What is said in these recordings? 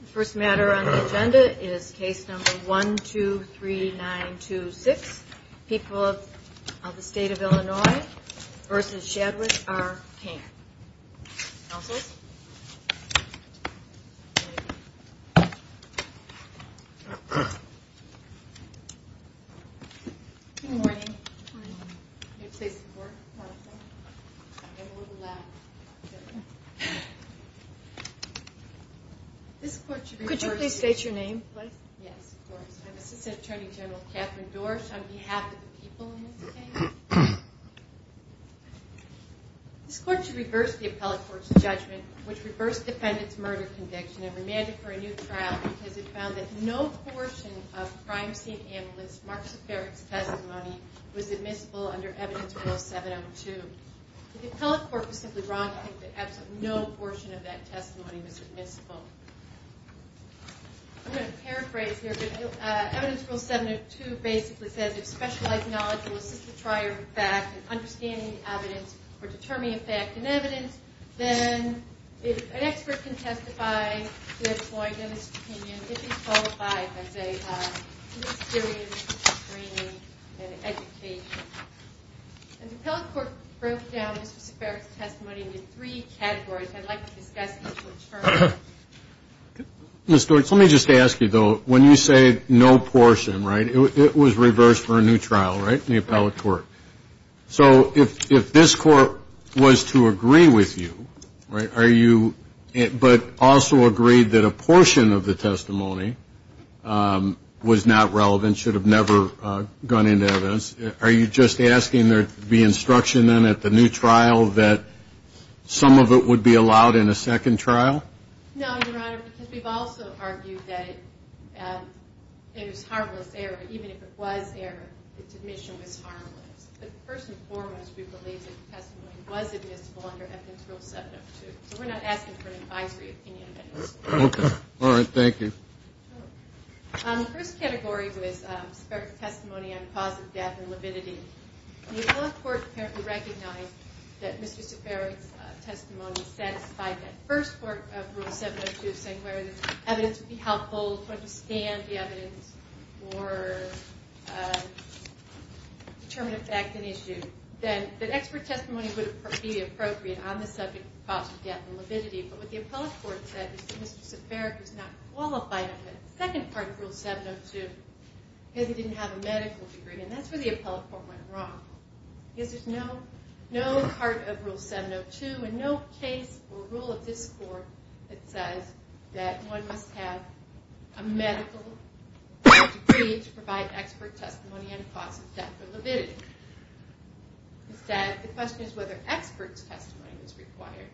The first matter on the agenda is case number 123926. People of the state of Illinois v. Shadwick v. King. Counsels? Good morning. Could you please state your name? Yes, of course. I'm Assistant Attorney General Kathryn Dorsch on behalf of the people in this case. This court should reverse the appellate court's judgment, which reversed defendant's murder conviction and remanded for a new trial because it found that no portion of crime scene analyst Mark Zafaric's testimony was admissible under evidence rule 702. The appellate court was simply wrong to think that absolutely no portion of that testimony was admissible. I'm going to paraphrase here, but evidence rule 702 basically says if specialized knowledge will assist the trier of fact in understanding the evidence or determining a fact in evidence, then an expert can testify to a point of his opinion if he's qualified as a serious attorney in education. The appellate court broke down Mr. Zafaric's testimony into three categories. I'd like to discuss each one shortly. Ms. Dorsch, let me just ask you, though, when you say no portion, right, it was reversed for a new trial, right, in the appellate court. So if this court was to agree with you, right, but also agreed that a portion of the testimony was not relevant, should have never gone into evidence, are you just asking there to be instruction then at the new trial that some of it would be allowed in a second trial? No, Your Honor, because we've also argued that it was harmless error. Even if it was error, its admission was harmless. But first and foremost, we believe that the testimony was admissible under evidence rule 702. So we're not asking for an advisory opinion. Okay. All right. Thank you. The first category was Zafaric's testimony on the cause of death and lividity. The appellate court apparently recognized that Mr. Zafaric's testimony satisfied that first part of rule 702, saying whether the evidence would be helpful to understand the evidence or determine a fact and issue. Then, that expert testimony would be appropriate on the subject of the cause of death and lividity. But what the appellate court said was that Mr. Zafaric was not qualified on the second part of rule 702 because he didn't have a medical degree. And that's where the appellate court went wrong. Because there's no part of rule 702 and no case or rule of this court that says that one must have a medical degree to provide expert testimony on the cause of death or lividity. Instead, the question is whether expert testimony is required.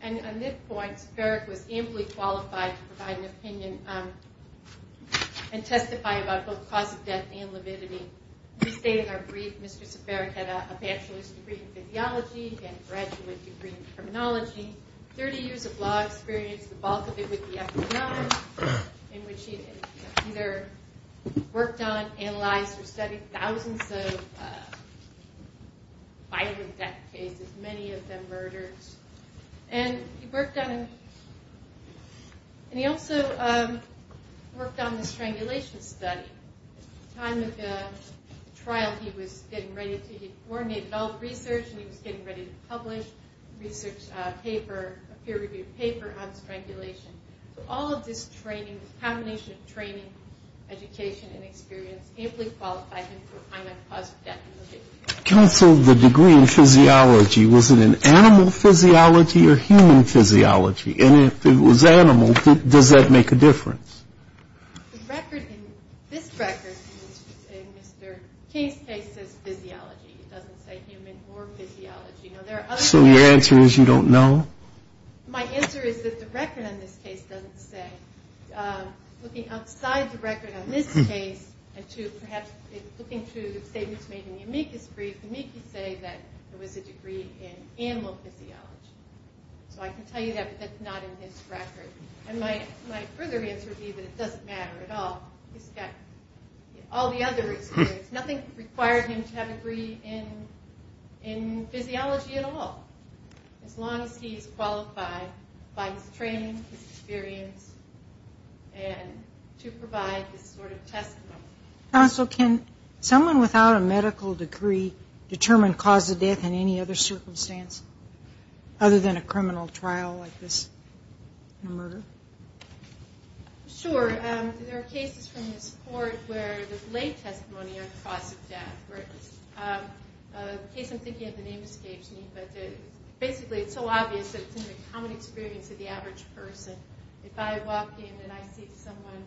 And on this point, Zafaric was amply qualified to provide an opinion and testify about both the cause of death and lividity. We state in our brief, Mr. Zafaric had a bachelor's degree in physiology and a graduate degree in criminology. He had 30 years of law experience, the bulk of it with the FBI, in which he either worked on, analyzed, or studied thousands of violent death cases, many of them murders. And he also worked on the strangulation study. At the time of the trial, he coordinated all the research and he was getting ready to publish a peer-reviewed paper on strangulation. So all of this training, this combination of training, education, and experience, amply qualified him to provide a cause of death and lividity. And so the degree in physiology, was it an animal physiology or human physiology? And if it was animal, does that make a difference? The record in this record, in Mr. King's case, says physiology. It doesn't say human or physiology. So your answer is you don't know? My answer is that the record on this case doesn't say. Looking outside the record on this case, and perhaps looking through the statements made in the amicus brief, the amicus say that there was a degree in animal physiology. So I can tell you that, but that's not in his record. And my further answer would be that it doesn't matter at all. He's got all the other experience. Nothing required him to have a degree in physiology at all, as long as he's qualified by his training, his experience, and to provide this sort of testimony. Counsel, can someone without a medical degree determine cause of death in any other circumstance, other than a criminal trial like this, a murder? Sure. There are cases from this court where there's late testimony on cause of death. The case I'm thinking of, the name escapes me, but basically it's so obvious that it's in the common experience of the average person. If I walk in and I see someone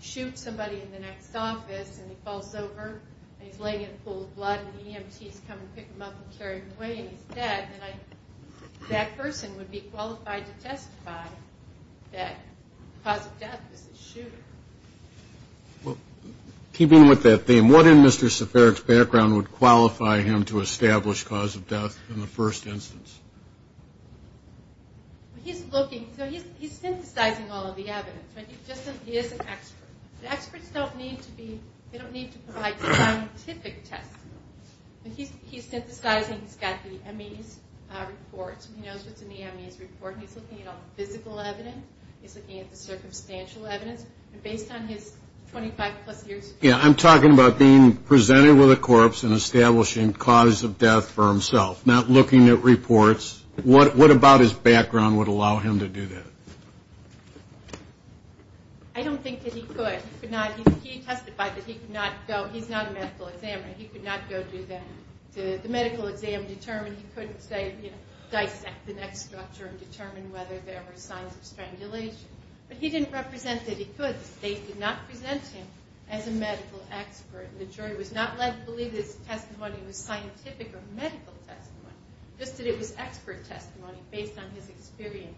shoot somebody in the next office, and he falls over, and he's laying in a pool of blood, and EMTs come and pick him up and carry him away, and he's dead, then that person would be qualified to testify that the cause of death was a shooter. Well, keeping with that theme, what in Mr. Seferik's background would qualify him to establish cause of death in the first instance? He's looking, so he's synthesizing all of the evidence. He is an expert. Experts don't need to be, they don't need to provide scientific testimony. He's synthesizing, he's got the MEs reports, and he knows what's in the MEs report. He's looking at all the physical evidence, he's looking at the circumstantial evidence, and based on his 25 plus years... Yeah, I'm talking about being presented with a corpse and establishing cause of death for himself, not looking at reports. What about his background would allow him to do that? I don't think that he could. He testified that he could not go, he's not a medical examiner, he could not go to the medical exam and determine, he couldn't, say, dissect the neck structure and determine whether there were signs of strangulation. But he didn't represent that he could, that they could not present him as a medical expert. The jury was not led to believe that his testimony was scientific or medical testimony, just that it was expert testimony based on his experience.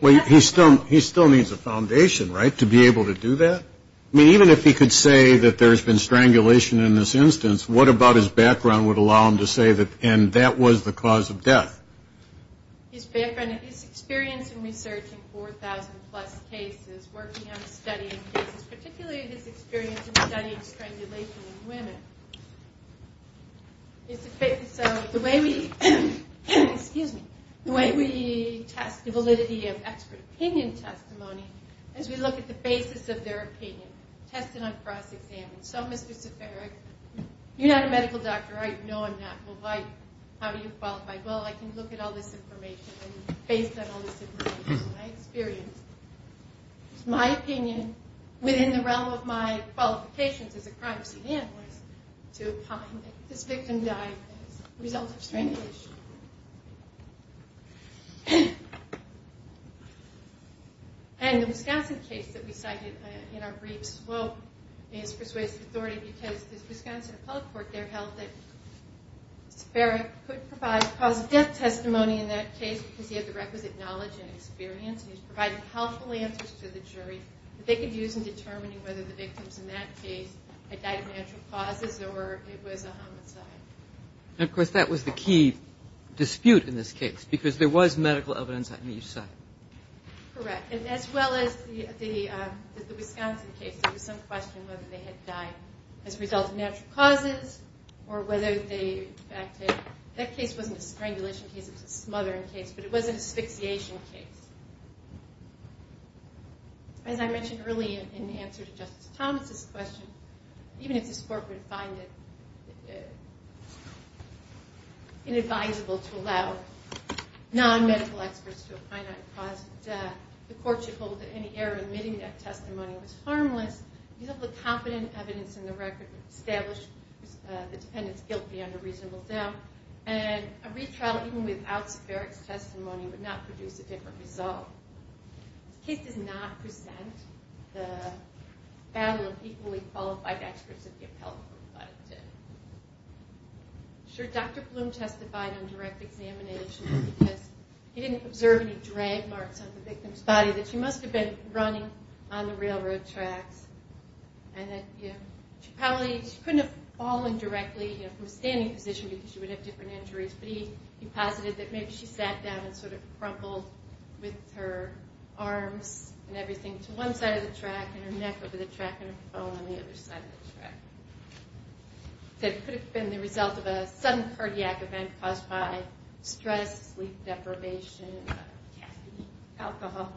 Well, he still needs a foundation, right, to be able to do that? I mean, even if he could say that there's been strangulation in this instance, what about his background would allow him to say that, and that was the cause of death? His background, his experience in researching 4,000 plus cases, working on studying cases, so the way we, excuse me, the way we test the validity of expert opinion testimony is we look at the basis of their opinion, test it on cross-examination. So, Mr. Seferag, you're not a medical doctor, right? No, I'm not. Well, how do you qualify? Well, I can look at all this information and based on all this information, my experience, my opinion, within the realm of my qualifications as a crime scene analyst, to find that this victim died as a result of strangulation. And the Wisconsin case that we cited in our briefs, well, he has persuasive authority because the Wisconsin Appellate Court there held that Mr. Seferag could provide cause of death testimony in that case because he had the requisite knowledge and experience, and he was providing helpful answers to the jury that they could use in determining whether the victims in that case had died of natural causes or it was a homicide. And, of course, that was the key dispute in this case because there was medical evidence on each side. Correct, and as well as the Wisconsin case, there was some question whether they had died as a result of natural causes or whether they acted. That case wasn't a strangulation case. It was a smothering case, but it was an asphyxiation case. As I mentioned earlier in the answer to Justice Thomas' question, even if this Court would find it inadvisable to allow non-medical experts to apply that cause of death, the Court should hold that any error in admitting that testimony was harmless. Use of the competent evidence in the record would establish the defendant's guilt beyond a reasonable doubt, and a retrial even without Seferag's testimony would not produce a different result. This case does not present the battle of equally qualified experts at the Appellate Court, but it did. I'm sure Dr. Bloom testified on direct examination because he didn't observe any drag marks on the victim's body that she must have been running on the railroad tracks. She couldn't have fallen directly from a standing position because she would have different injuries, but he posited that maybe she sat down and sort of crumpled with her arms and everything to one side of the track and her neck over the track and her phone on the other side of the track. It could have been the result of a sudden cardiac event caused by stress, sleep deprivation, caffeine, alcohol.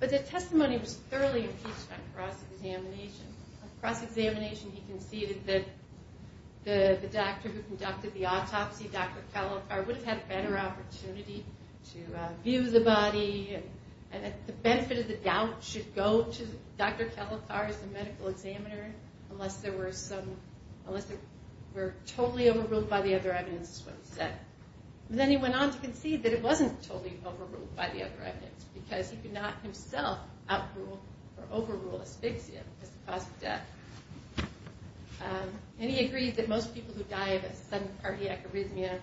But the testimony was thoroughly impeached on cross-examination. On cross-examination, he conceded that the doctor who conducted the autopsy, Dr. Calotar, would have had a better opportunity to view the body and that the benefit of the doubt should go to Dr. Calotar as the medical examiner unless it were totally overruled by the other evidence, is what he said. Then he went on to concede that it wasn't totally overruled by the other evidence because he could not himself outrule or overrule asphyxia as the cause of death. And he agreed that most people who die of a sudden cardiac arrhythmia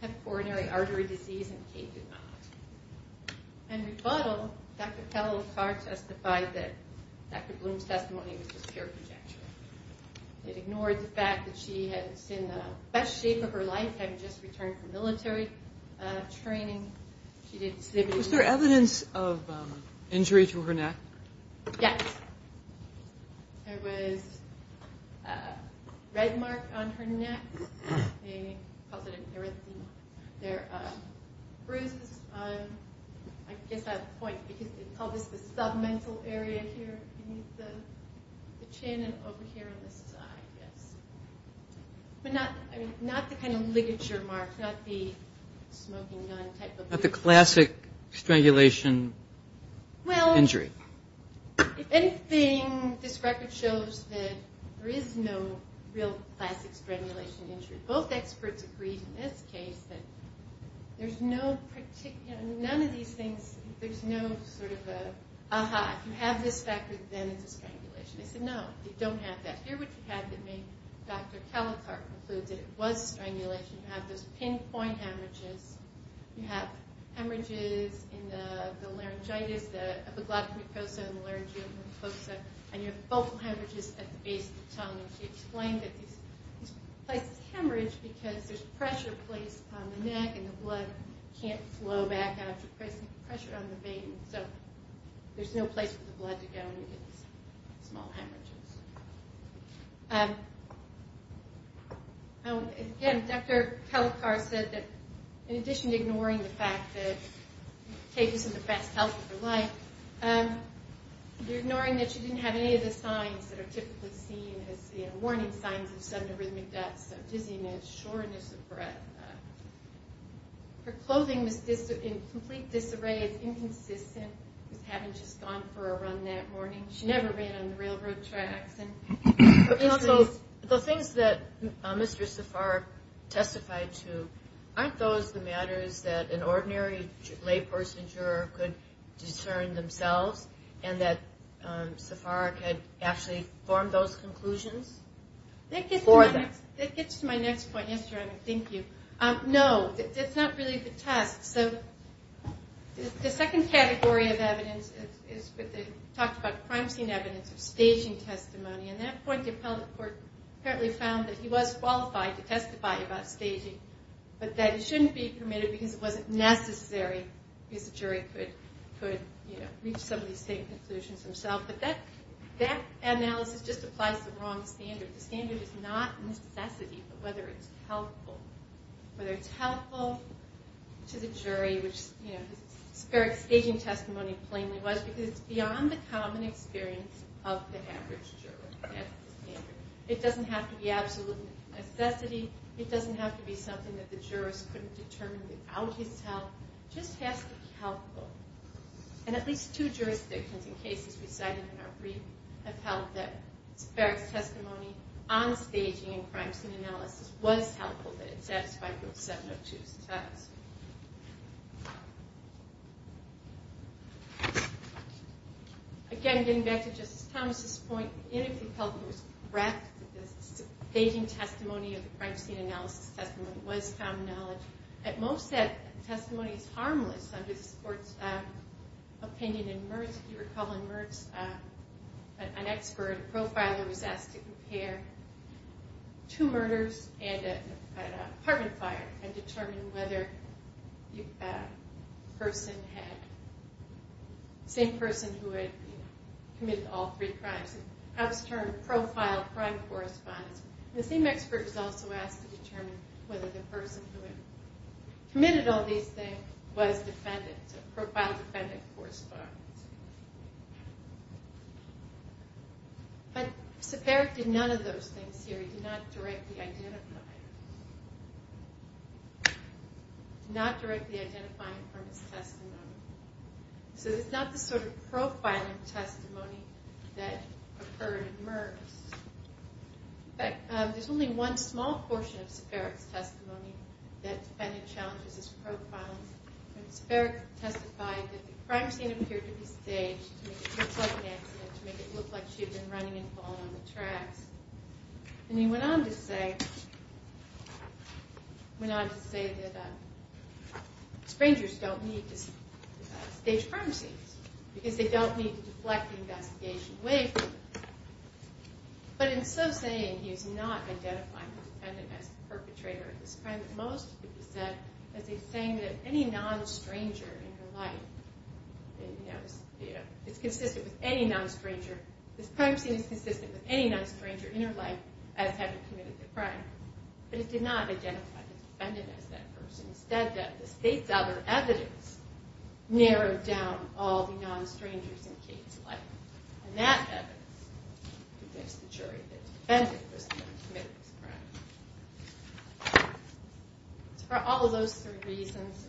have coronary artery disease and Kay did not. In rebuttal, Dr. Calotar testified that Dr. Bloom's testimony was a scare projection. It ignored the fact that she had seen the best shape of her life having just returned from military training. She did exhibit a- Was there evidence of injury to her neck? Yes. There was a red mark on her neck. They called it an arrhythmia. There are bruises. I guess I have a point because they call this the submental area here beneath the chin and over here on the side, yes. But not the kind of ligature marks, not the smoking gun type of- Not the classic strangulation injury. If anything, this record shows that there is no real classic strangulation injury. Both experts agreed in this case that there's no particular- None of these things- There's no sort of an aha, if you have this factor, then it's a strangulation. They said no, they don't have that. Here what you have that made Dr. Calotar conclude that it was a strangulation. You have those pinpoint hemorrhages. You have hemorrhages in the laryngitis, the epiglottic mucosa, and the laryngeal mucosa. And you have vocal hemorrhages at the base of the tongue. She explained that these places hemorrhage because there's pressure placed on the neck and the blood can't flow back out. You're placing pressure on the vein. So there's no place for the blood to go and you get these small hemorrhages. Again, Dr. Calotar said that in addition to ignoring the fact that it takes some of the best health of her life, you're ignoring that she didn't have any of the signs that are typically seen as warning signs of sudden arrhythmic death, so dizziness, shortness of breath. Her clothing was in complete disarray. It's inconsistent with having just gone for a run that morning. She never ran on the railroad tracks. So the things that Mr. Safaric testified to, aren't those the matters that an ordinary lay person juror could discern themselves and that Safaric had actually formed those conclusions for them? That gets to my next point. Yes, ma'am. Thank you. No, that's not really the test. The second category of evidence is what they talked about, crime scene evidence or staging testimony. At that point, the appellate court apparently found that he was qualified to testify about staging, but that it shouldn't be permitted because it wasn't necessary, because the jury could reach some of these same conclusions themselves. But that analysis just applies to the wrong standard. The standard is not necessity, but whether it's helpful. It's helpful to the jury, which Safaric's staging testimony plainly was, because it's beyond the common experience of the average juror. It doesn't have to be absolute necessity. It doesn't have to be something that the jurist couldn't determine without his help. It just has to be helpful. And at least two jurisdictions and cases we cited in our brief have held that Safaric's testimony on staging and crime scene analysis was helpful, that it satisfied Group 702's test. Again, getting back to Justice Thomas's point, if the appellate court was correct that the staging testimony or the crime scene analysis testimony was common knowledge, at most that testimony is harmless under this Court's opinion in Mertz. An expert, a profiler, was asked to compare two murders at an apartment fire and determine whether the same person who had committed all three crimes, and how this term, profile, crime, corresponds. The same expert was also asked to determine whether the person who had committed all these things was defendant, so profile defendant corresponds. But Safaric did none of those things here. He did not directly identify. He did not directly identify from his testimony. So it's not the sort of profiling testimony that occurred in Mertz. In fact, there's only one small portion of Safaric's testimony that defendant challenges as profiling. Safaric testified that the crime scene appeared to be staged to make it look like an accident, to make it look like she had been running and falling on the tracks. And he went on to say that strangers don't need to stage crime scenes because they don't need to deflect the investigation away from them. But in so saying, he is not identifying the defendant as the perpetrator of this crime. At most, he's saying that any non-stranger in her life, it's consistent with any non-stranger, this crime scene is consistent with any non-stranger in her life as having committed the crime. But he did not identify the defendant as that person. Instead, the state's other evidence narrowed down all the non-strangers in Kate's life. And that evidence convicts the jury that the defendant was the one who committed this crime. So for all of those three reasons,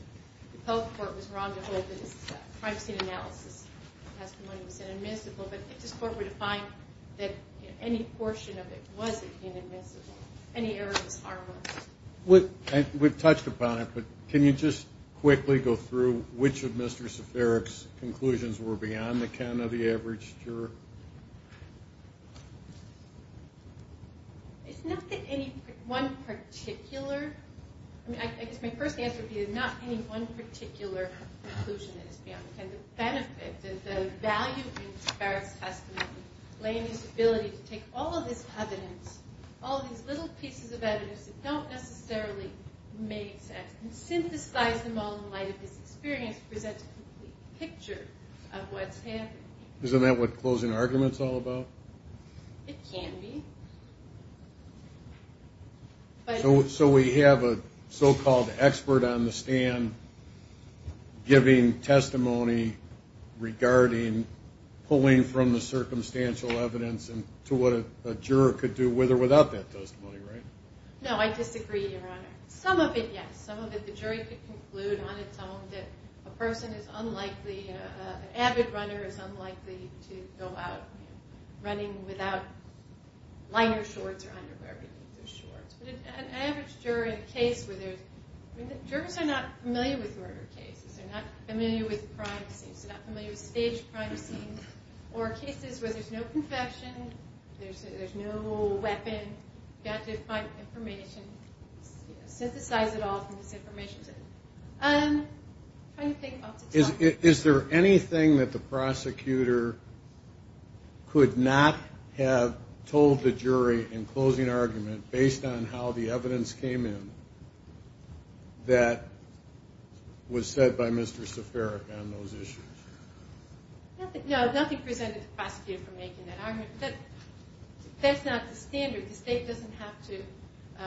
the public court was wrong to hold that his crime scene analysis testimony was inadmissible, but this court would find that any portion of it wasn't inadmissible, any error was harmless. We've touched upon it, but can you just quickly go through which of Mr. Safaric's conclusions were beyond the canon of the average juror? It's not that any one particular... I guess my first answer would be that not any one particular conclusion is beyond the canon. The benefit, the value of Mr. Safaric's testimony, laying his ability to take all of this evidence, all of these little pieces of evidence that don't necessarily make sense, and synthesize them all in light of his experience presents a complete picture of what's happening. Isn't that what closing argument's all about? It can be. So we have a so-called expert on the stand giving testimony regarding pulling from the circumstantial evidence to what a juror could do with or without that testimony, right? No, I disagree, Your Honor. Some of it, yes. Some of it the jury could conclude on its own that a person is unlikely, an avid runner is unlikely to go out running without liner shorts or underwear beneath their shorts. But an average juror in a case where there's... Jurors are not familiar with murder cases. They're not familiar with crime scenes. They're not familiar with staged crime scenes, or cases where there's no confession, there's no weapon, you've got to find information, synthesize it all from this information set. How do you think about the topic? Is there anything that the prosecutor could not have told the jury in closing argument based on how the evidence came in that was said by Mr. Safaric on those issues? No, nothing presented to the prosecutor for making that argument. That's not the standard. The state doesn't have to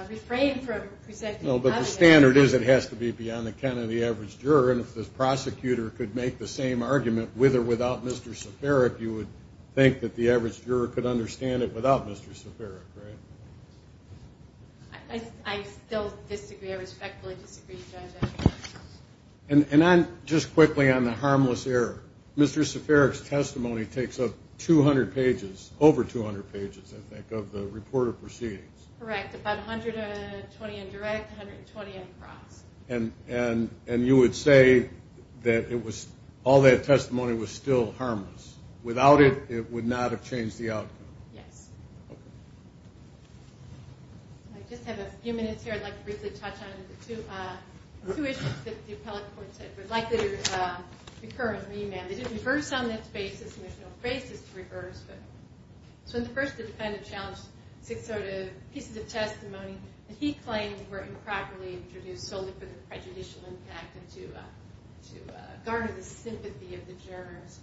refrain from presenting evidence. No, but the standard is it has to be beyond the account of the average juror, and if the prosecutor could make the same argument with or without Mr. Safaric, you would think that the average juror could understand it without Mr. Safaric, right? I still disagree. I respectfully disagree, Judge. And just quickly on the harmless error, Mr. Safaric's testimony takes up 200 pages, over 200 pages, I think, of the report of proceedings. Correct, about 120 in direct, 120 in cross. And you would say that all that testimony was still harmless. Without it, it would not have changed the outcome. Yes. Okay. I just have a few minutes here I'd like to briefly touch on. Two issues that the appellate court said were likely to recur in the amendment. They didn't reverse on this basis, and there's no basis to reverse. So when the first defendant challenged 602 pieces of testimony, he claimed they were improperly introduced solely for the prejudicial impact and to garner the sympathy of the jurors.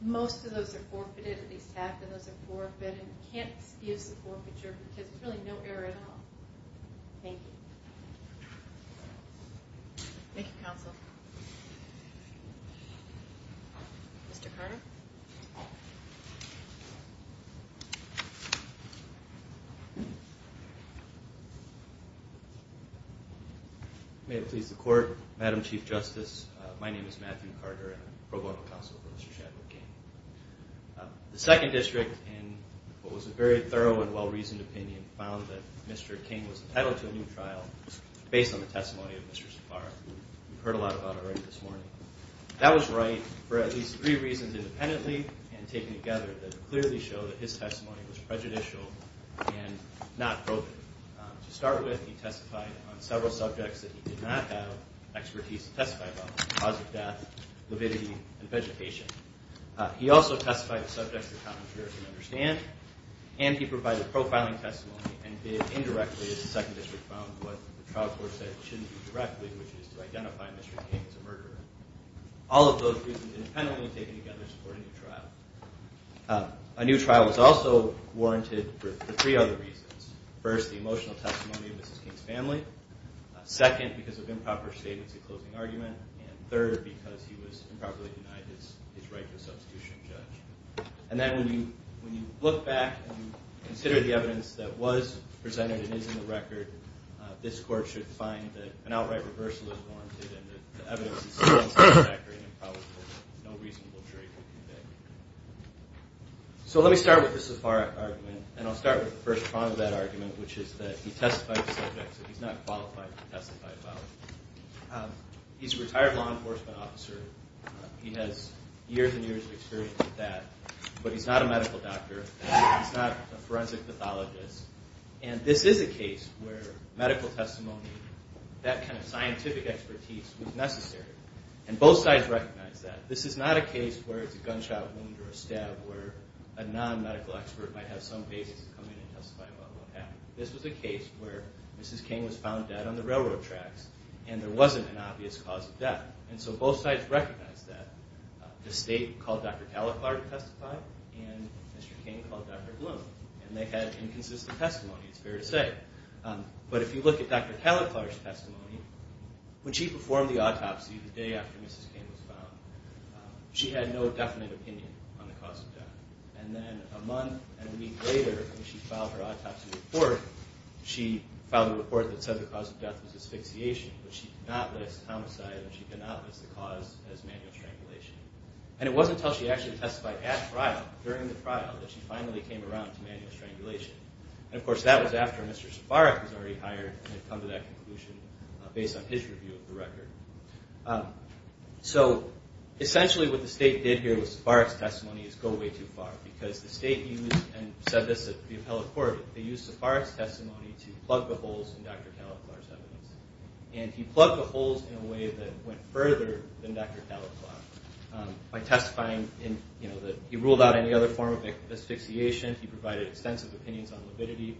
Most of those are forfeited, at least half of those are forfeited, and you can't excuse the forfeiture because there's really no error at all. Thank you. Thank you, counsel. Mr. Carter. May it please the Court, Madam Chief Justice, my name is Matthew Carter, and I'm pro bono counsel for Mr. Shadwick King. The second district, in what was a very thorough and well-reasoned opinion, found that Mr. King was entitled to a new trial based on the testimony of Mr. Safar. You've heard a lot about it already this morning. That was right for at least three reasons independently and taken together that clearly show that his testimony was prejudicial and not broken. To start with, he testified on several subjects that he did not have expertise to testify about, the cause of death, lividity, and vegetation. He also testified on subjects the commentators didn't understand, and he provided profiling testimony and did indirectly, as the second district found, what the trial court said it shouldn't do directly, which is to identify Mr. King as a murderer. All of those reasons independently taken together support a new trial. A new trial was also warranted for three other reasons. First, the emotional testimony of Mrs. King's family. Second, because of improper statements at closing argument. And third, because he was improperly denied his right to a substitution judge. And then when you look back and you consider the evidence that was presented and is in the record, this court should find that an outright reversal is warranted and that the evidence is still satisfactory and probably for no reasonable jury to convict. So let me start with the Safar argument, and I'll start with the first prong of that argument, which is that he testified on subjects that he's not qualified to testify about. He's a retired law enforcement officer. He has years and years of experience with that. But he's not a medical doctor. He's not a forensic pathologist. And this is a case where medical testimony, that kind of scientific expertise, was necessary. And both sides recognize that. This is not a case where it's a gunshot wound or a stab, where a non-medical expert might have some basis to come in and testify about what happened. This was a case where Mrs. King was found dead on the railroad tracks, and there wasn't an obvious cause of death. And so both sides recognized that. The state called Dr. Kaliklar to testify, and Mr. King called Dr. Bloom. And they had inconsistent testimony, it's fair to say. But if you look at Dr. Kaliklar's testimony, when she performed the autopsy the day after Mrs. King was found, she had no definite opinion on the cause of death. And then a month and a week later, when she filed her autopsy report, she filed a report that said the cause of death was asphyxiation, but she could not list homicide and she could not list the cause as manual strangulation. And it wasn't until she actually testified at trial, during the trial, that she finally came around to manual strangulation. And, of course, that was after Mr. Safarek was already hired, and had come to that conclusion based on his review of the record. So essentially what the state did here with Safarek's testimony is go way too far, because the state used, and said this at the appellate court, they used Safarek's testimony to plug the holes in Dr. Kaliklar's evidence. And he plugged the holes in a way that went further than Dr. Kaliklar, by testifying that he ruled out any other form of asphyxiation, he provided extensive opinions on libidity,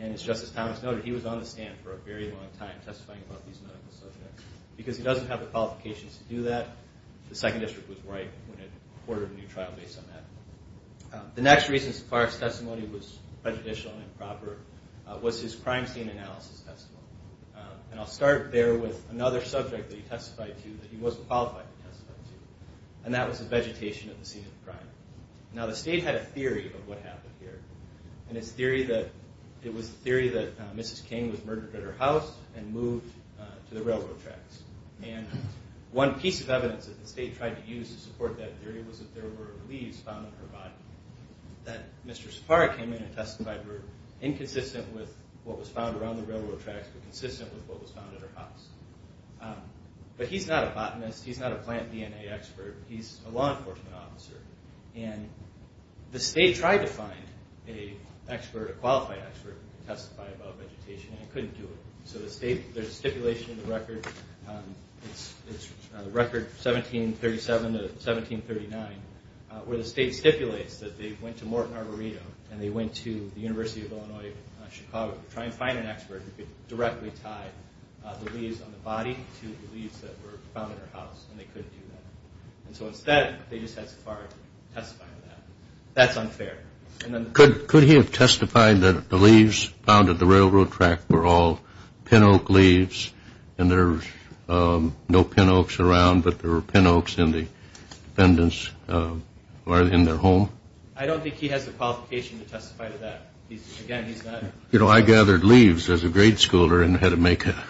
and, as Justice Thomas noted, he was on the stand for a very long time testifying about these medical subjects. Because he doesn't have the qualifications to do that, the Second District was right when it ordered a new trial based on that. The next reason Safarek's testimony was prejudicial and improper was his crime scene analysis testimony. And I'll start there with another subject that he testified to that he wasn't qualified to testify to, and that was the vegetation of the scene of the crime. Now the state had a theory of what happened here, and it was the theory that Mrs. King was murdered at her house and moved to the railroad tracks. And one piece of evidence that the state tried to use to support that theory was that there were leaves found on her body, that Mr. Safarek came in and testified, inconsistent with what was found around the railroad tracks, but consistent with what was found at her house. But he's not a botanist, he's not a plant DNA expert, he's a law enforcement officer. And the state tried to find an expert, a qualified expert, to testify about vegetation, and it couldn't do it. So the state, there's stipulation in the record, it's record 1737 to 1739, where the state stipulates that they went to Morton Arboretum and they went to the University of Illinois in Chicago to try and find an expert who could directly tie the leaves on the body to the leaves that were found in her house, and they couldn't do that. And so instead, they just had Safarek testify to that. That's unfair. Could he have testified that the leaves found at the railroad track were all pin oak leaves and there were no pin oaks around, but there were pin oaks in their home? I don't think he has the qualification to testify to that. Again, he's not... You know, I gathered leaves as a grade schooler and had to make a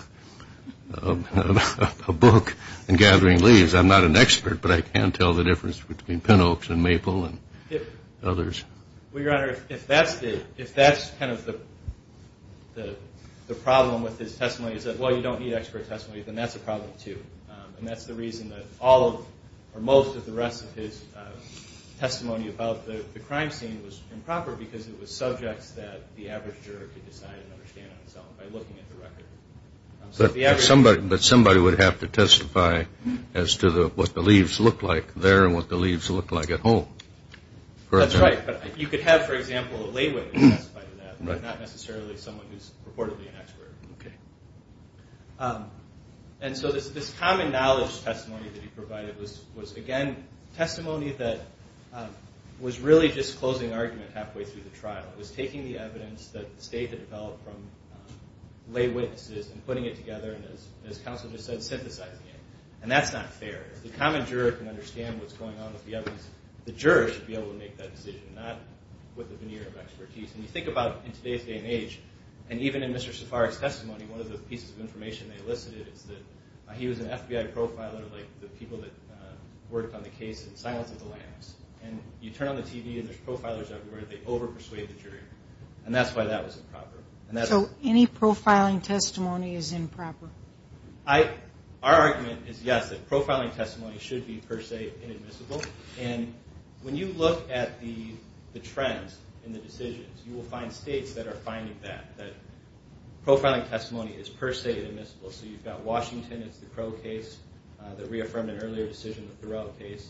book on gathering leaves. I'm not an expert, but I can tell the difference between pin oaks and maple and others. Well, Your Honor, if that's kind of the problem with his testimony, is that, well, you don't need expert testimony, then that's a problem, too. And that's the reason that all or most of the rest of his testimony about the crime scene was improper because it was subjects that the average juror could decide and understand on his own by looking at the record. But somebody would have to testify as to what the leaves looked like there and what the leaves looked like at home. That's right. But you could have, for example, a lay witness testify to that, but not necessarily someone who's purportedly an expert. Okay. And so this common knowledge testimony that he provided was, again, testimony that was really just closing argument halfway through the trial. It was taking the evidence that the State had developed from lay witnesses and putting it together and, as counsel just said, synthesizing it. And that's not fair. If the common juror can understand what's going on with the evidence, the juror should be able to make that decision, not with a veneer of expertise. And you think about, in today's day and age, and even in Mr. Safarek's testimony, one of the pieces of information they listed is that he was an FBI profiler, like the people that worked on the case in Silence of the Lambs. And you turn on the TV and there's profilers everywhere. They over-persuade the jury. And that's why that was improper. So any profiling testimony is improper? Our argument is, yes, that profiling testimony should be, per se, inadmissible. And when you look at the trends in the decisions, you will find states that are finding that, that profiling testimony is, per se, inadmissible. So you've got Washington, it's the Crow case, that reaffirmed an earlier decision, the Thoreau case.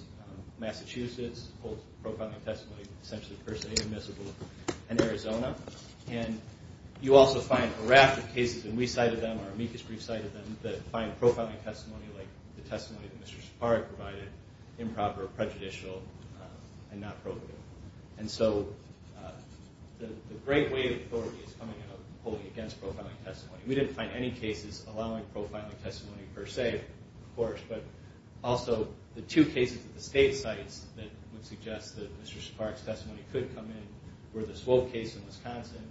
Massachusetts holds profiling testimony essentially, per se, inadmissible. And Arizona. And you also find a raft of cases, and we cited them, or amicus brief cited them, that find profiling testimony like the testimony that Mr. Siparic provided improper, prejudicial, and not probative. And so the great weight of authority is coming out of holding against profiling testimony. We didn't find any cases allowing profiling testimony, per se, of course. But also the two cases at the state sites that would suggest that Mr. Siparic's testimony could come in were the Swope case in Wisconsin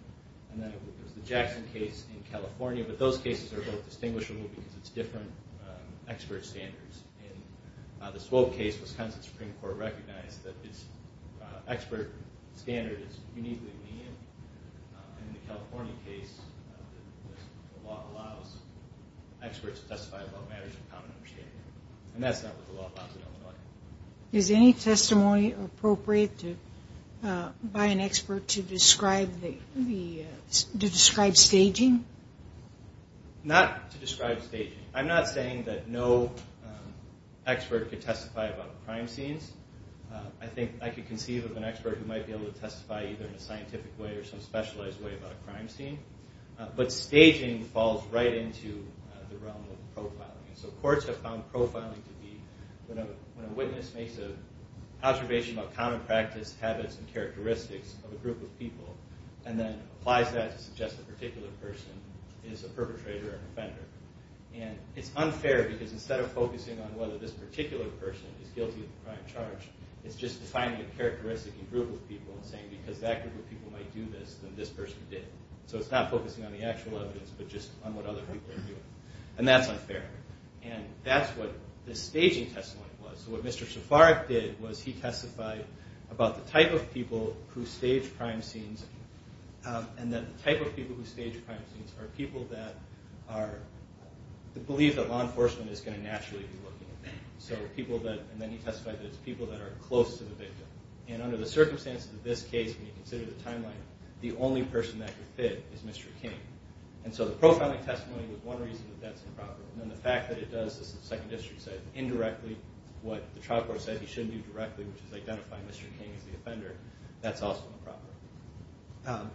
and then there's the Jackson case in California. But those cases are both distinguishable because it's different expert standards. In the Swope case, Wisconsin Supreme Court recognized that its expert standard is uniquely lenient. And in the California case, the law allows experts to testify about matters of common understanding. And that's not what the law allows in Illinois. Is any testimony appropriate by an expert to describe staging? Not to describe staging. I'm not saying that no expert could testify about crime scenes. I think I could conceive of an expert who might be able to testify either in a scientific way or some specialized way about a crime scene. But staging falls right into the realm of profiling. And so courts have found profiling to be when a witness makes an observation about common practice, habits, and characteristics of a group of people and then applies that to suggest a particular person is a perpetrator or an offender. And it's unfair because instead of focusing on whether this particular person is guilty of a crime charge, it's just defining a characteristic in a group of people and saying, because that group of people might do this, then this person did. So it's not focusing on the actual evidence but just on what other people are doing. And that's unfair. And that's what this staging testimony was. So what Mr. Szafarek did was he testified about the type of people who stage crime scenes and that the type of people who stage crime scenes are people that believe that law enforcement is going to naturally be looking at them. And then he testified that it's people that are close to the victim. And under the circumstances of this case, when you consider the timeline, the only person that could fit is Mr. King. And so the pro-founding testimony was one reason that that's improper. And then the fact that it does, as the Second District said, indirectly what the trial court said he shouldn't do directly, which is identify Mr. King as the offender, that's also improper.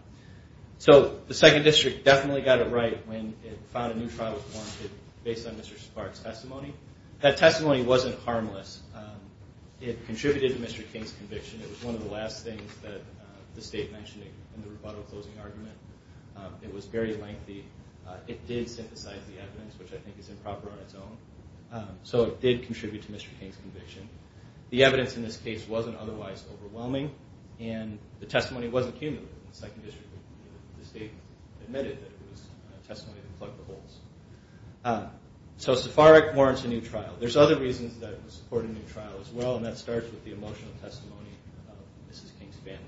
So the Second District definitely got it right when it found a new trial was warranted based on Mr. Szafarek's testimony. That testimony wasn't harmless. It contributed to Mr. King's conviction. It was one of the last things that the State mentioned in the rebuttal closing argument. It was very lengthy. It did synthesize the evidence, which I think is improper on its own. So it did contribute to Mr. King's conviction. The evidence in this case wasn't otherwise overwhelming, and the testimony wasn't cumulative in the Second District. The State admitted that it was testimony that plugged the holes. So Szafarek warrants a new trial. There's other reasons that it was courted a new trial as well, and that starts with the emotional testimony of Mrs. King's family.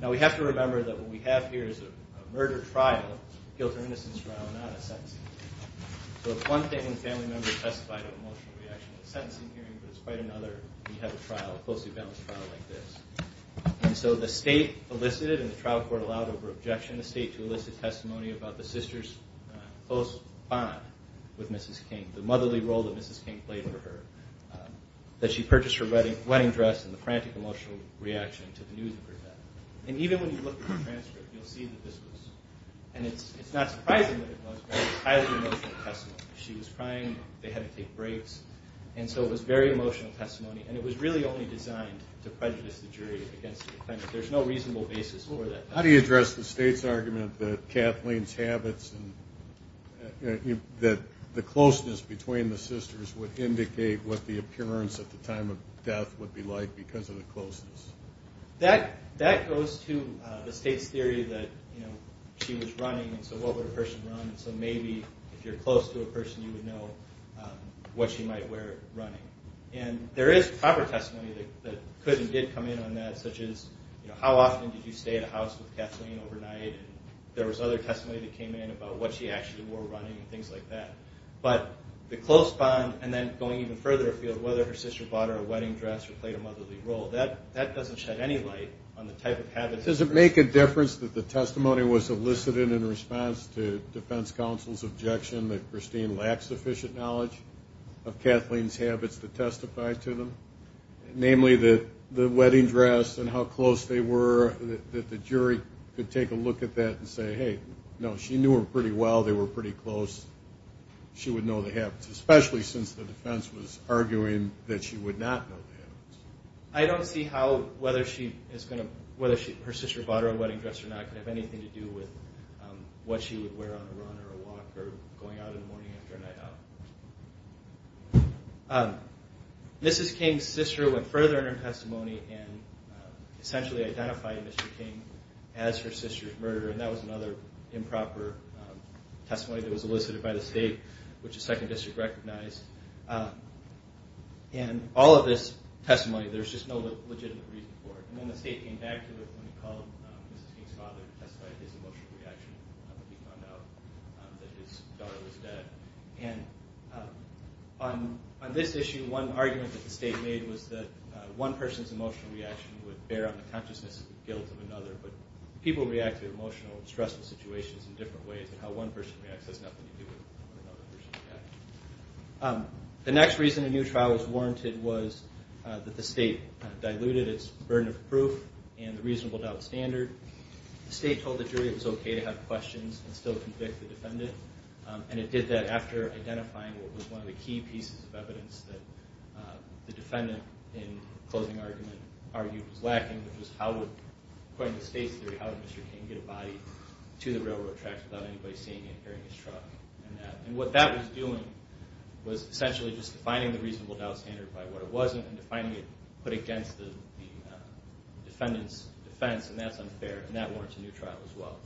Now we have to remember that what we have here is a murder trial, a guilt or innocence trial, not a sentencing hearing. So it's one thing when family members testify to an emotional reaction at a sentencing hearing, but it's quite another when you have a trial, a closely balanced trial like this. So the State elicited, and the trial court allowed over objection, the State to elicit testimony about the sisters' close bond with Mrs. King, the motherly role that Mrs. King played for her, that she purchased her wedding dress and the frantic emotional reaction to the news of her death. And even when you look at the transcript, you'll see that this was, and it's not surprising that it was, highly emotional testimony. She was crying. They had to take breaks. And so it was very emotional testimony, and it was really only designed to prejudice the jury against the defendant. There's no reasonable basis for that. How do you address the State's argument that Kathleen's habits and that the closeness between the sisters would indicate what the appearance at the time of death would be like because of the closeness? That goes to the State's theory that she was running, and so what would a person run? So maybe if you're close to a person, you would know what she might wear running. And there is proper testimony that could and did come in on that, such as how often did you stay at a house with Kathleen overnight? There was other testimony that came in about what she actually wore running and things like that. But the close bond and then going even further afield, whether her sister bought her a wedding dress or played a motherly role, that doesn't shed any light on the type of habits. Does it make a difference that the testimony was elicited in response to defense counsel's objection that Christine lacked sufficient knowledge of Kathleen's habits to testify to them? Namely, the wedding dress and how close they were, that the jury could take a look at that and say, hey, no, she knew her pretty well. They were pretty close. She would know the habits, especially since the defense was arguing that she would not know the habits. I don't see how whether her sister bought her a wedding dress or not could have anything to do with what she would wear on a run or a walk or going out in the morning after a night out. Mrs. King's sister went further in her testimony and essentially identified Mr. King as her sister's murderer, and that was another improper testimony that was elicited by the state, which the Second District recognized. And all of this testimony, there's just no legitimate reason for it. And then the state came back to it when they called Mrs. King's father to testify to his emotional reaction when he found out that his daughter was dead. And on this issue, one argument that the state made was that one person's emotional reaction would bear on the consciousness and guilt of another, but people react to emotional and stressful situations in different ways, and how one person reacts has nothing to do with how another person reacts. The next reason a new trial was warranted was that the state diluted its burden of proof and the reasonable doubt standard. The state told the jury it was okay to have questions and still convict the defendant, and it did that after identifying what was one of the key pieces of evidence that the defendant, in closing argument, argued was lacking, which was how would, according to the state's theory, how would Mr. King get a body to the railroad tracks without anybody seeing it, hearing his truck, and that. And what that was doing was essentially just defining the reasonable doubt standard by what it wasn't and defining it against the defendant's defense, and that's unfair, and that warrants a new trial as well.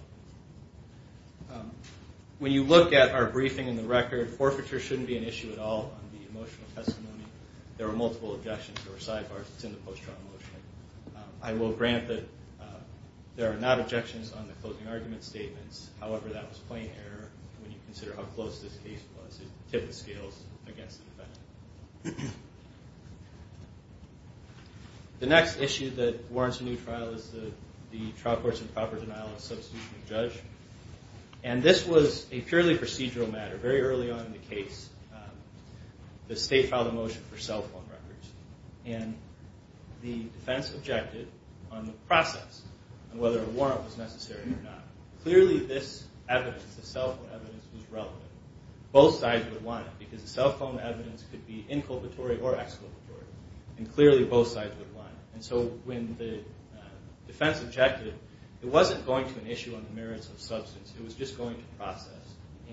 When you look at our briefing and the record, forfeiture shouldn't be an issue at all on the emotional testimony. There were multiple objections. There were sidebars. It's in the post-trial motion. I will grant that there are not objections on the closing argument statements. However, that was plain error when you consider how close this case was. It tipped the scales against the defendant. The next issue that warrants a new trial is the trial court's improper denial of substitution of judge, and this was a purely procedural matter. Very early on in the case, the state filed a motion for cell phone records, and the defense objected on the process and whether a warrant was necessary or not. Clearly this evidence, the cell phone evidence, was relevant. Both sides would want it because the cell phone evidence could be inculpatory or exculpatory, and clearly both sides would want it. And so when the defense objected, it wasn't going to an issue on the merits of substance. It was just going to process.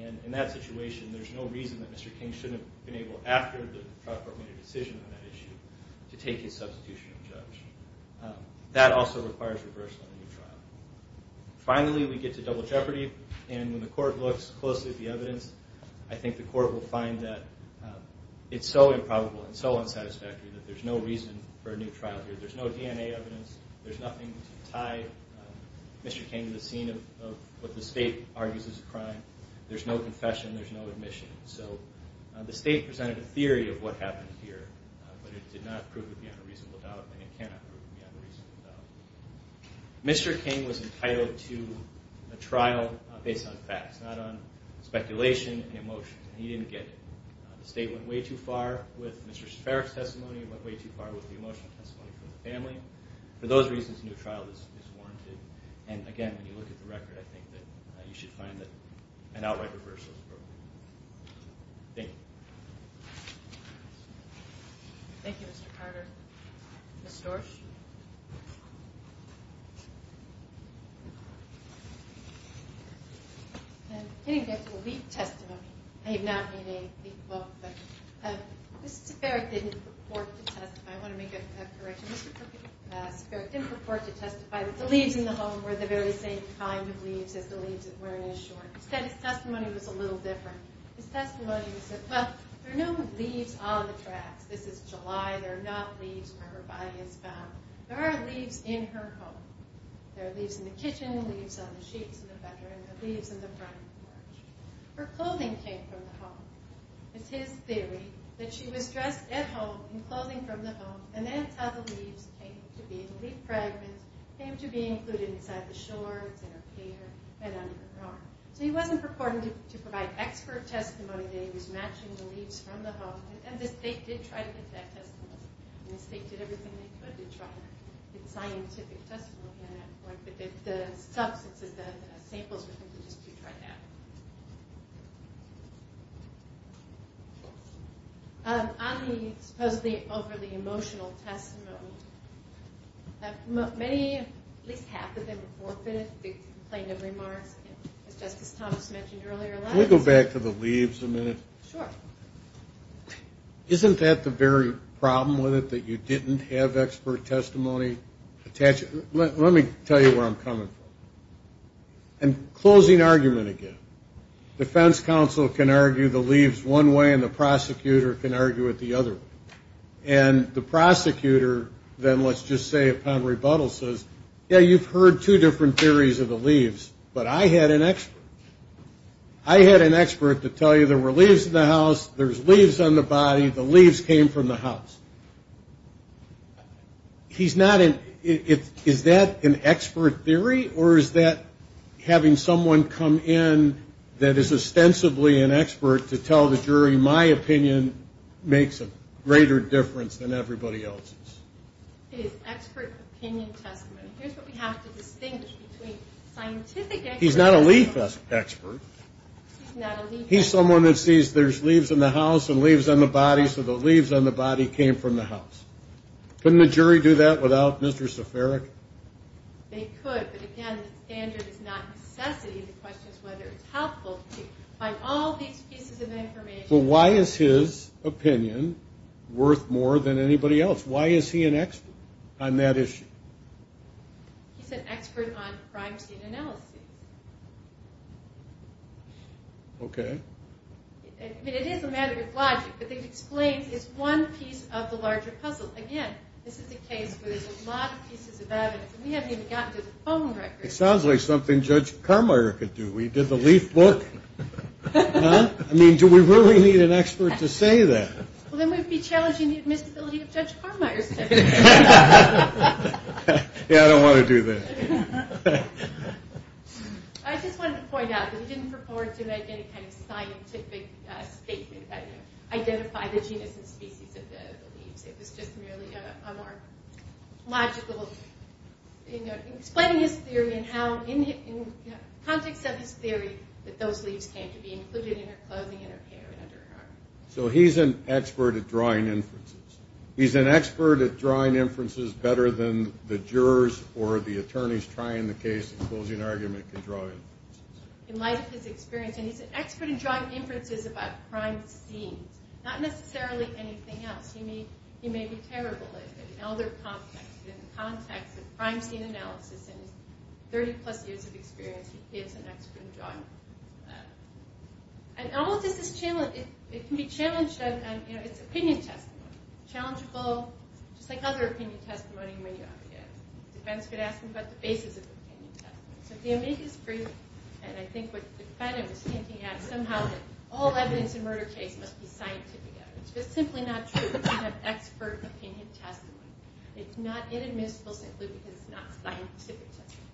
And in that situation, there's no reason that Mr. King shouldn't have been able, after the trial court made a decision on that issue, to take his substitution of judge. That also requires reversal in the trial. Finally, we get to double jeopardy, and when the court looks closely at the evidence, I think the court will find that it's so improbable and so unsatisfactory that there's no reason for a new trial here. There's no DNA evidence. There's nothing to tie Mr. King to the scene of what the state argues is a crime. There's no confession. There's no admission. So the state presented a theory of what happened here, but it did not prove to be on a reasonable doubt, and it cannot prove to be on a reasonable doubt. Mr. King was entitled to a trial based on facts, not on speculation and emotions. He didn't get it. The state went way too far with Mr. Shafareff's testimony and went way too far with the emotional testimony from the family. For those reasons, a new trial is warranted. And, again, when you look at the record, I think that you should find that an outright reversal is appropriate. Thank you. Thank you, Mr. Carter. Ms. Storch? I didn't get to the leaf testimony. I have not made a leaf vote, but Mr. Shafareff didn't purport to testify. I want to make a correction. Mr. Shafareff didn't purport to testify. The leaves in the home were the very same kind of leaves as the leaves at Werner's Shore. Instead, his testimony was a little different. His testimony was that, well, there are no leaves on the tracks. This is July. There are not leaves where her body is found. There are leaves in her home. There are leaves in the kitchen, leaves on the sheets in the bedroom, and leaves in the front porch. Her clothing came from the home. It's his theory that she was dressed at home in clothing from the home, and that's how the leaves came to be. The leaf fragments came to be included inside the shorts, in her hair, and under her arm. So he wasn't purporting to provide expert testimony. He was matching the leaves from the home, and the state did try to get that testimony. The state did everything they could to try to get scientific testimony at that point, but the substances, the samples were just to try that. On the supposedly overly emotional testimony, many, at least half of them, forfeited the complaint of remarks, as Justice Thomas mentioned earlier. Can we go back to the leaves a minute? Sure. Isn't that the very problem with it, that you didn't have expert testimony attached? Let me tell you where I'm coming from. And closing argument again. Defense counsel can argue the leaves one way, and the prosecutor can argue it the other way. And the prosecutor then, let's just say upon rebuttal, says, yeah, you've heard two different theories of the leaves, but I had an expert. I had an expert to tell you there were leaves in the house, there's leaves on the body, the leaves came from the house. He's not in ñ is that an expert theory, or is that having someone come in that is ostensibly an expert to tell the jury, my opinion makes a greater difference than everybody else's? It is expert opinion testimony. Here's what we have to distinguish between scientific expert. He's not a leaf expert. He's not a leaf expert. He's someone that sees there's leaves in the house and leaves on the body, so the leaves on the body came from the house. Couldn't the jury do that without Mr. Seferic? They could, but again, the standard is not necessity. The question is whether it's helpful to find all these pieces of information. Well, why is his opinion worth more than anybody else? Why is he an expert on that issue? He's an expert on privacy and analysis. Okay. I mean, it is a matter of logic, but they've explained it's one piece of the larger puzzle. Again, this is a case where there's a lot of pieces of evidence, and we haven't even gotten to the phone records. It sounds like something Judge Carmeier could do. We did the leaf book. I mean, do we really need an expert to say that? Well, then we'd be challenging the admissibility of Judge Carmeier's testimony. Yeah, I don't want to do that. I just wanted to point out that he didn't purport to make any kind of scientific statement that identified the genus and species of the leaves. It was just merely a more logical, you know, explaining his theory and how, in the context of his theory, that those leaves came to be included in her clothing and her hair and under her arm. So he's an expert at drawing inferences. He's an expert at drawing inferences better than the jurors or the attorneys trying the case and closing argument can draw inferences. In light of his experience, and he's an expert in drawing inferences about crime scenes, not necessarily anything else. He may be terrible at it in the elder context, but in the context of crime scene analysis and his 30-plus years of experience, he is an expert in drawing inferences. And all of this is challenging. It can be challenged on, you know, it's opinion testimony. Challengable, just like other opinion testimony may be obvious. The defense could ask him about the basis of opinion testimony. So if the amicus brief, and I think what the defendant was hinting at, somehow all evidence in a murder case must be scientific evidence. If it's simply not true, you have expert opinion testimony. It's not inadmissible simply because it's not scientific testimony.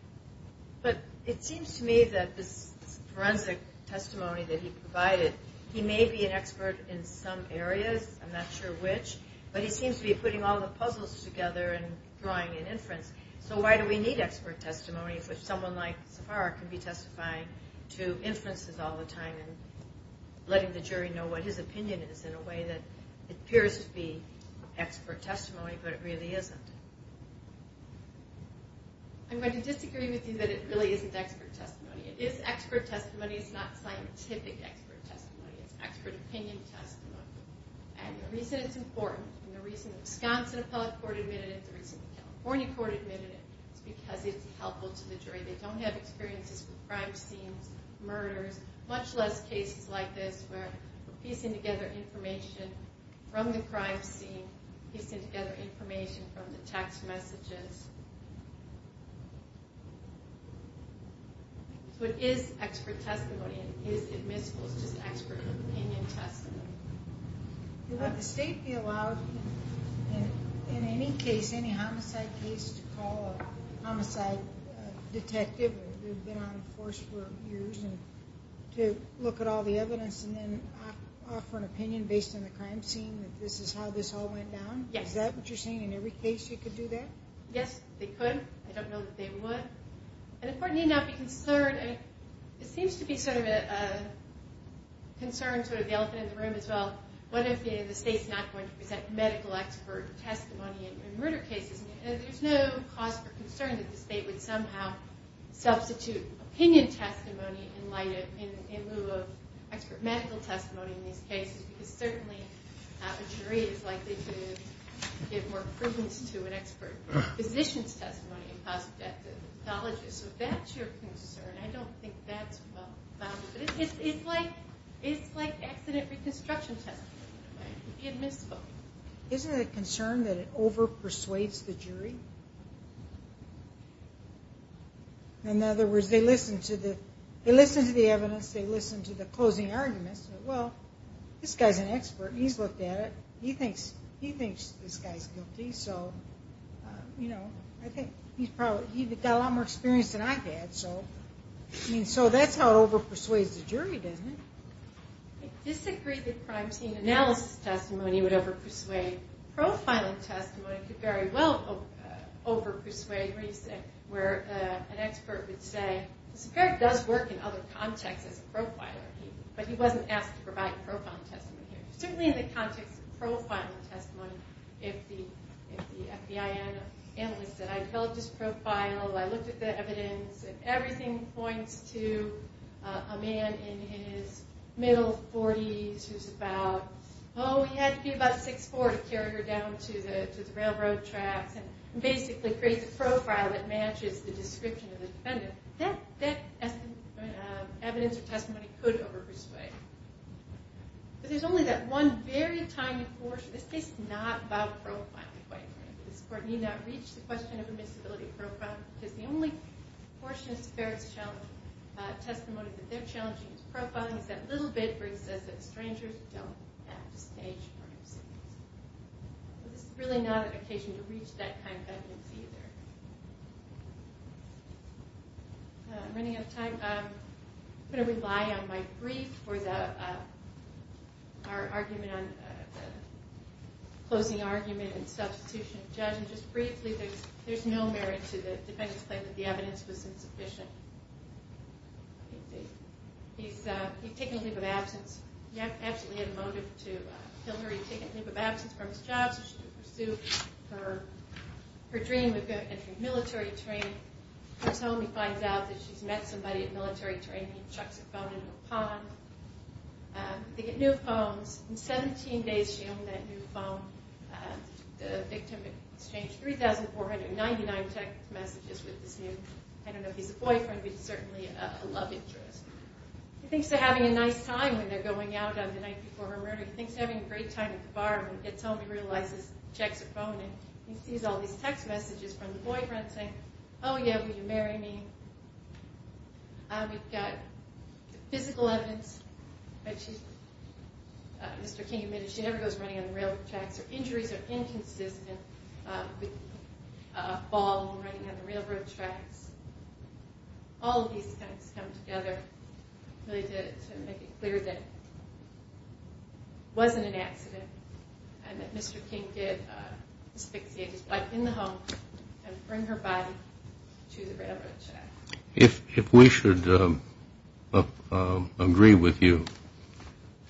But it seems to me that this forensic testimony that he provided, he may be an expert in some areas, I'm not sure which, but he seems to be putting all the puzzles together and drawing an inference. So why do we need expert testimony if someone like Safar can be testifying to inferences all the time and letting the jury know what his opinion is in a way that appears to be expert testimony, but it really isn't? I'm going to disagree with you that it really isn't expert testimony. It is expert testimony. It's not scientific expert testimony. It's expert opinion testimony. And the reason it's important, and the reason the Wisconsin Appellate Court admitted it, the reason the California Court admitted it, is because it's helpful to the jury. They don't have experiences with crime scenes, murders, much less cases like this where piecing together information from the crime scene, piecing together information from the text messages. So it is expert testimony, and it is admissible. It's just expert opinion testimony. Would the state be allowed in any case, any homicide case, to call a homicide detective who had been on the force for years to look at all the evidence and then offer an opinion based on the crime scene that this is how this all went down? Yes. Is that what you're saying? In every case you could do that? Yes, they could. I don't know that they would. And the court need not be concerned. It seems to be sort of a concern, sort of the elephant in the room as well. What if the state's not going to present medical expert testimony in murder cases? There's no cause for concern that the state would somehow substitute opinion testimony in lieu of expert medical testimony in these cases, because certainly a jury is likely to give more credence to an expert physician's testimony than a positive death pathologist. So if that's your concern, I don't think that's well-founded. But it's like accident reconstruction testimony. It would be admissible. Isn't it a concern that it over-persuades the jury? In other words, they listen to the evidence, they listen to the closing arguments. Well, this guy's an expert. He's looked at it. He thinks this guy's guilty. So, you know, I think he's got a lot more experience than I've had. So that's how it over-persuades the jury, isn't it? I disagree that crime scene analysis testimony would over-persuade profiling testimony. It could very well over-persuade where an expert would say, well, this guy does work in other contexts as a profiler, but he wasn't asked to provide profiling testimony here. Certainly in the context of profiling testimony, if the FBI analyst said, I developed his profile, I looked at the evidence, and everything points to a man in his middle 40s who's about, oh, he had to be about 6'4 to carry her down to the railroad tracks and basically creates a profile that matches the description of the defendant, that evidence or testimony could over-persuade. But there's only that one very tiny portion. This case is not about profiling quite frankly. This court need not reach the question of admissibility of profiling because the only portion of this affair that's challenging, testimony that they're challenging is profiling. It's that little bit where it says that strangers don't have to stage murder scenes. This is really not an occasion to reach that kind of evidence either. I'm running out of time. I'm going to rely on my brief for our closing argument and substitution of judge. Just briefly, there's no merit to the defendant's claim that the evidence was insufficient. He's taken a leave of absence. He absolutely had a motive to kill her. He took a leave of absence from his job so she could pursue her dream of military training. He comes home. He finds out that she's met somebody at military training. He chucks a phone into a pond. They get new phones. In 17 days, she owned that new phone. The victim exchanged 3,499 text messages with this new, I don't know if he's a boyfriend, but he's certainly a love interest. He thinks they're having a nice time when they're going out on the night before her murder. He thinks they're having a great time at the bar. When he gets home, he realizes the checks are phoning. He sees all these text messages from the boyfriend saying, Oh, yeah, will you marry me? We've got the physical evidence. Mr. King admitted she never goes running on the railroad tracks. Her injuries are inconsistent with a fall when running on the railroad tracks. All of these things come together really to make it clear that it wasn't an accident and that Mr. King did asphyxiate his wife in the home and bring her body to the railroad track. If we should agree with you,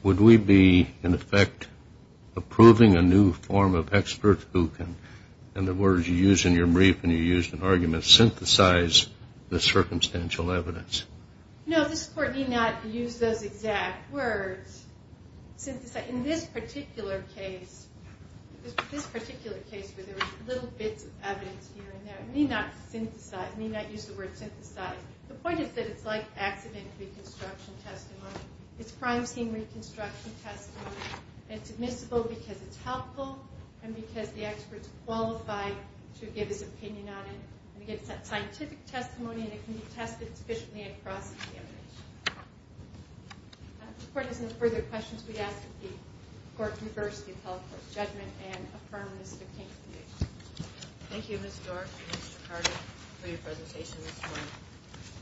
would we be, in effect, approving a new form of expert who can, in the words you used in your brief and you used in arguments, synthesize the circumstantial evidence? No, this Court need not use those exact words. In this particular case, this particular case where there was little bits of evidence here and there, it need not synthesize, need not use the word synthesize. The point is that it's like accident reconstruction testimony. It's crime scene reconstruction testimony. It's admissible because it's helpful and because the experts qualify to give his opinion on it. It's scientific testimony and it can be tested sufficiently across the examination. If the Court has no further questions, we ask that the Court reverse the appellate court judgment and affirm Mr. King's conviction. Thank you, Ms. Dorff and Mr. Carter, for your presentation this morning.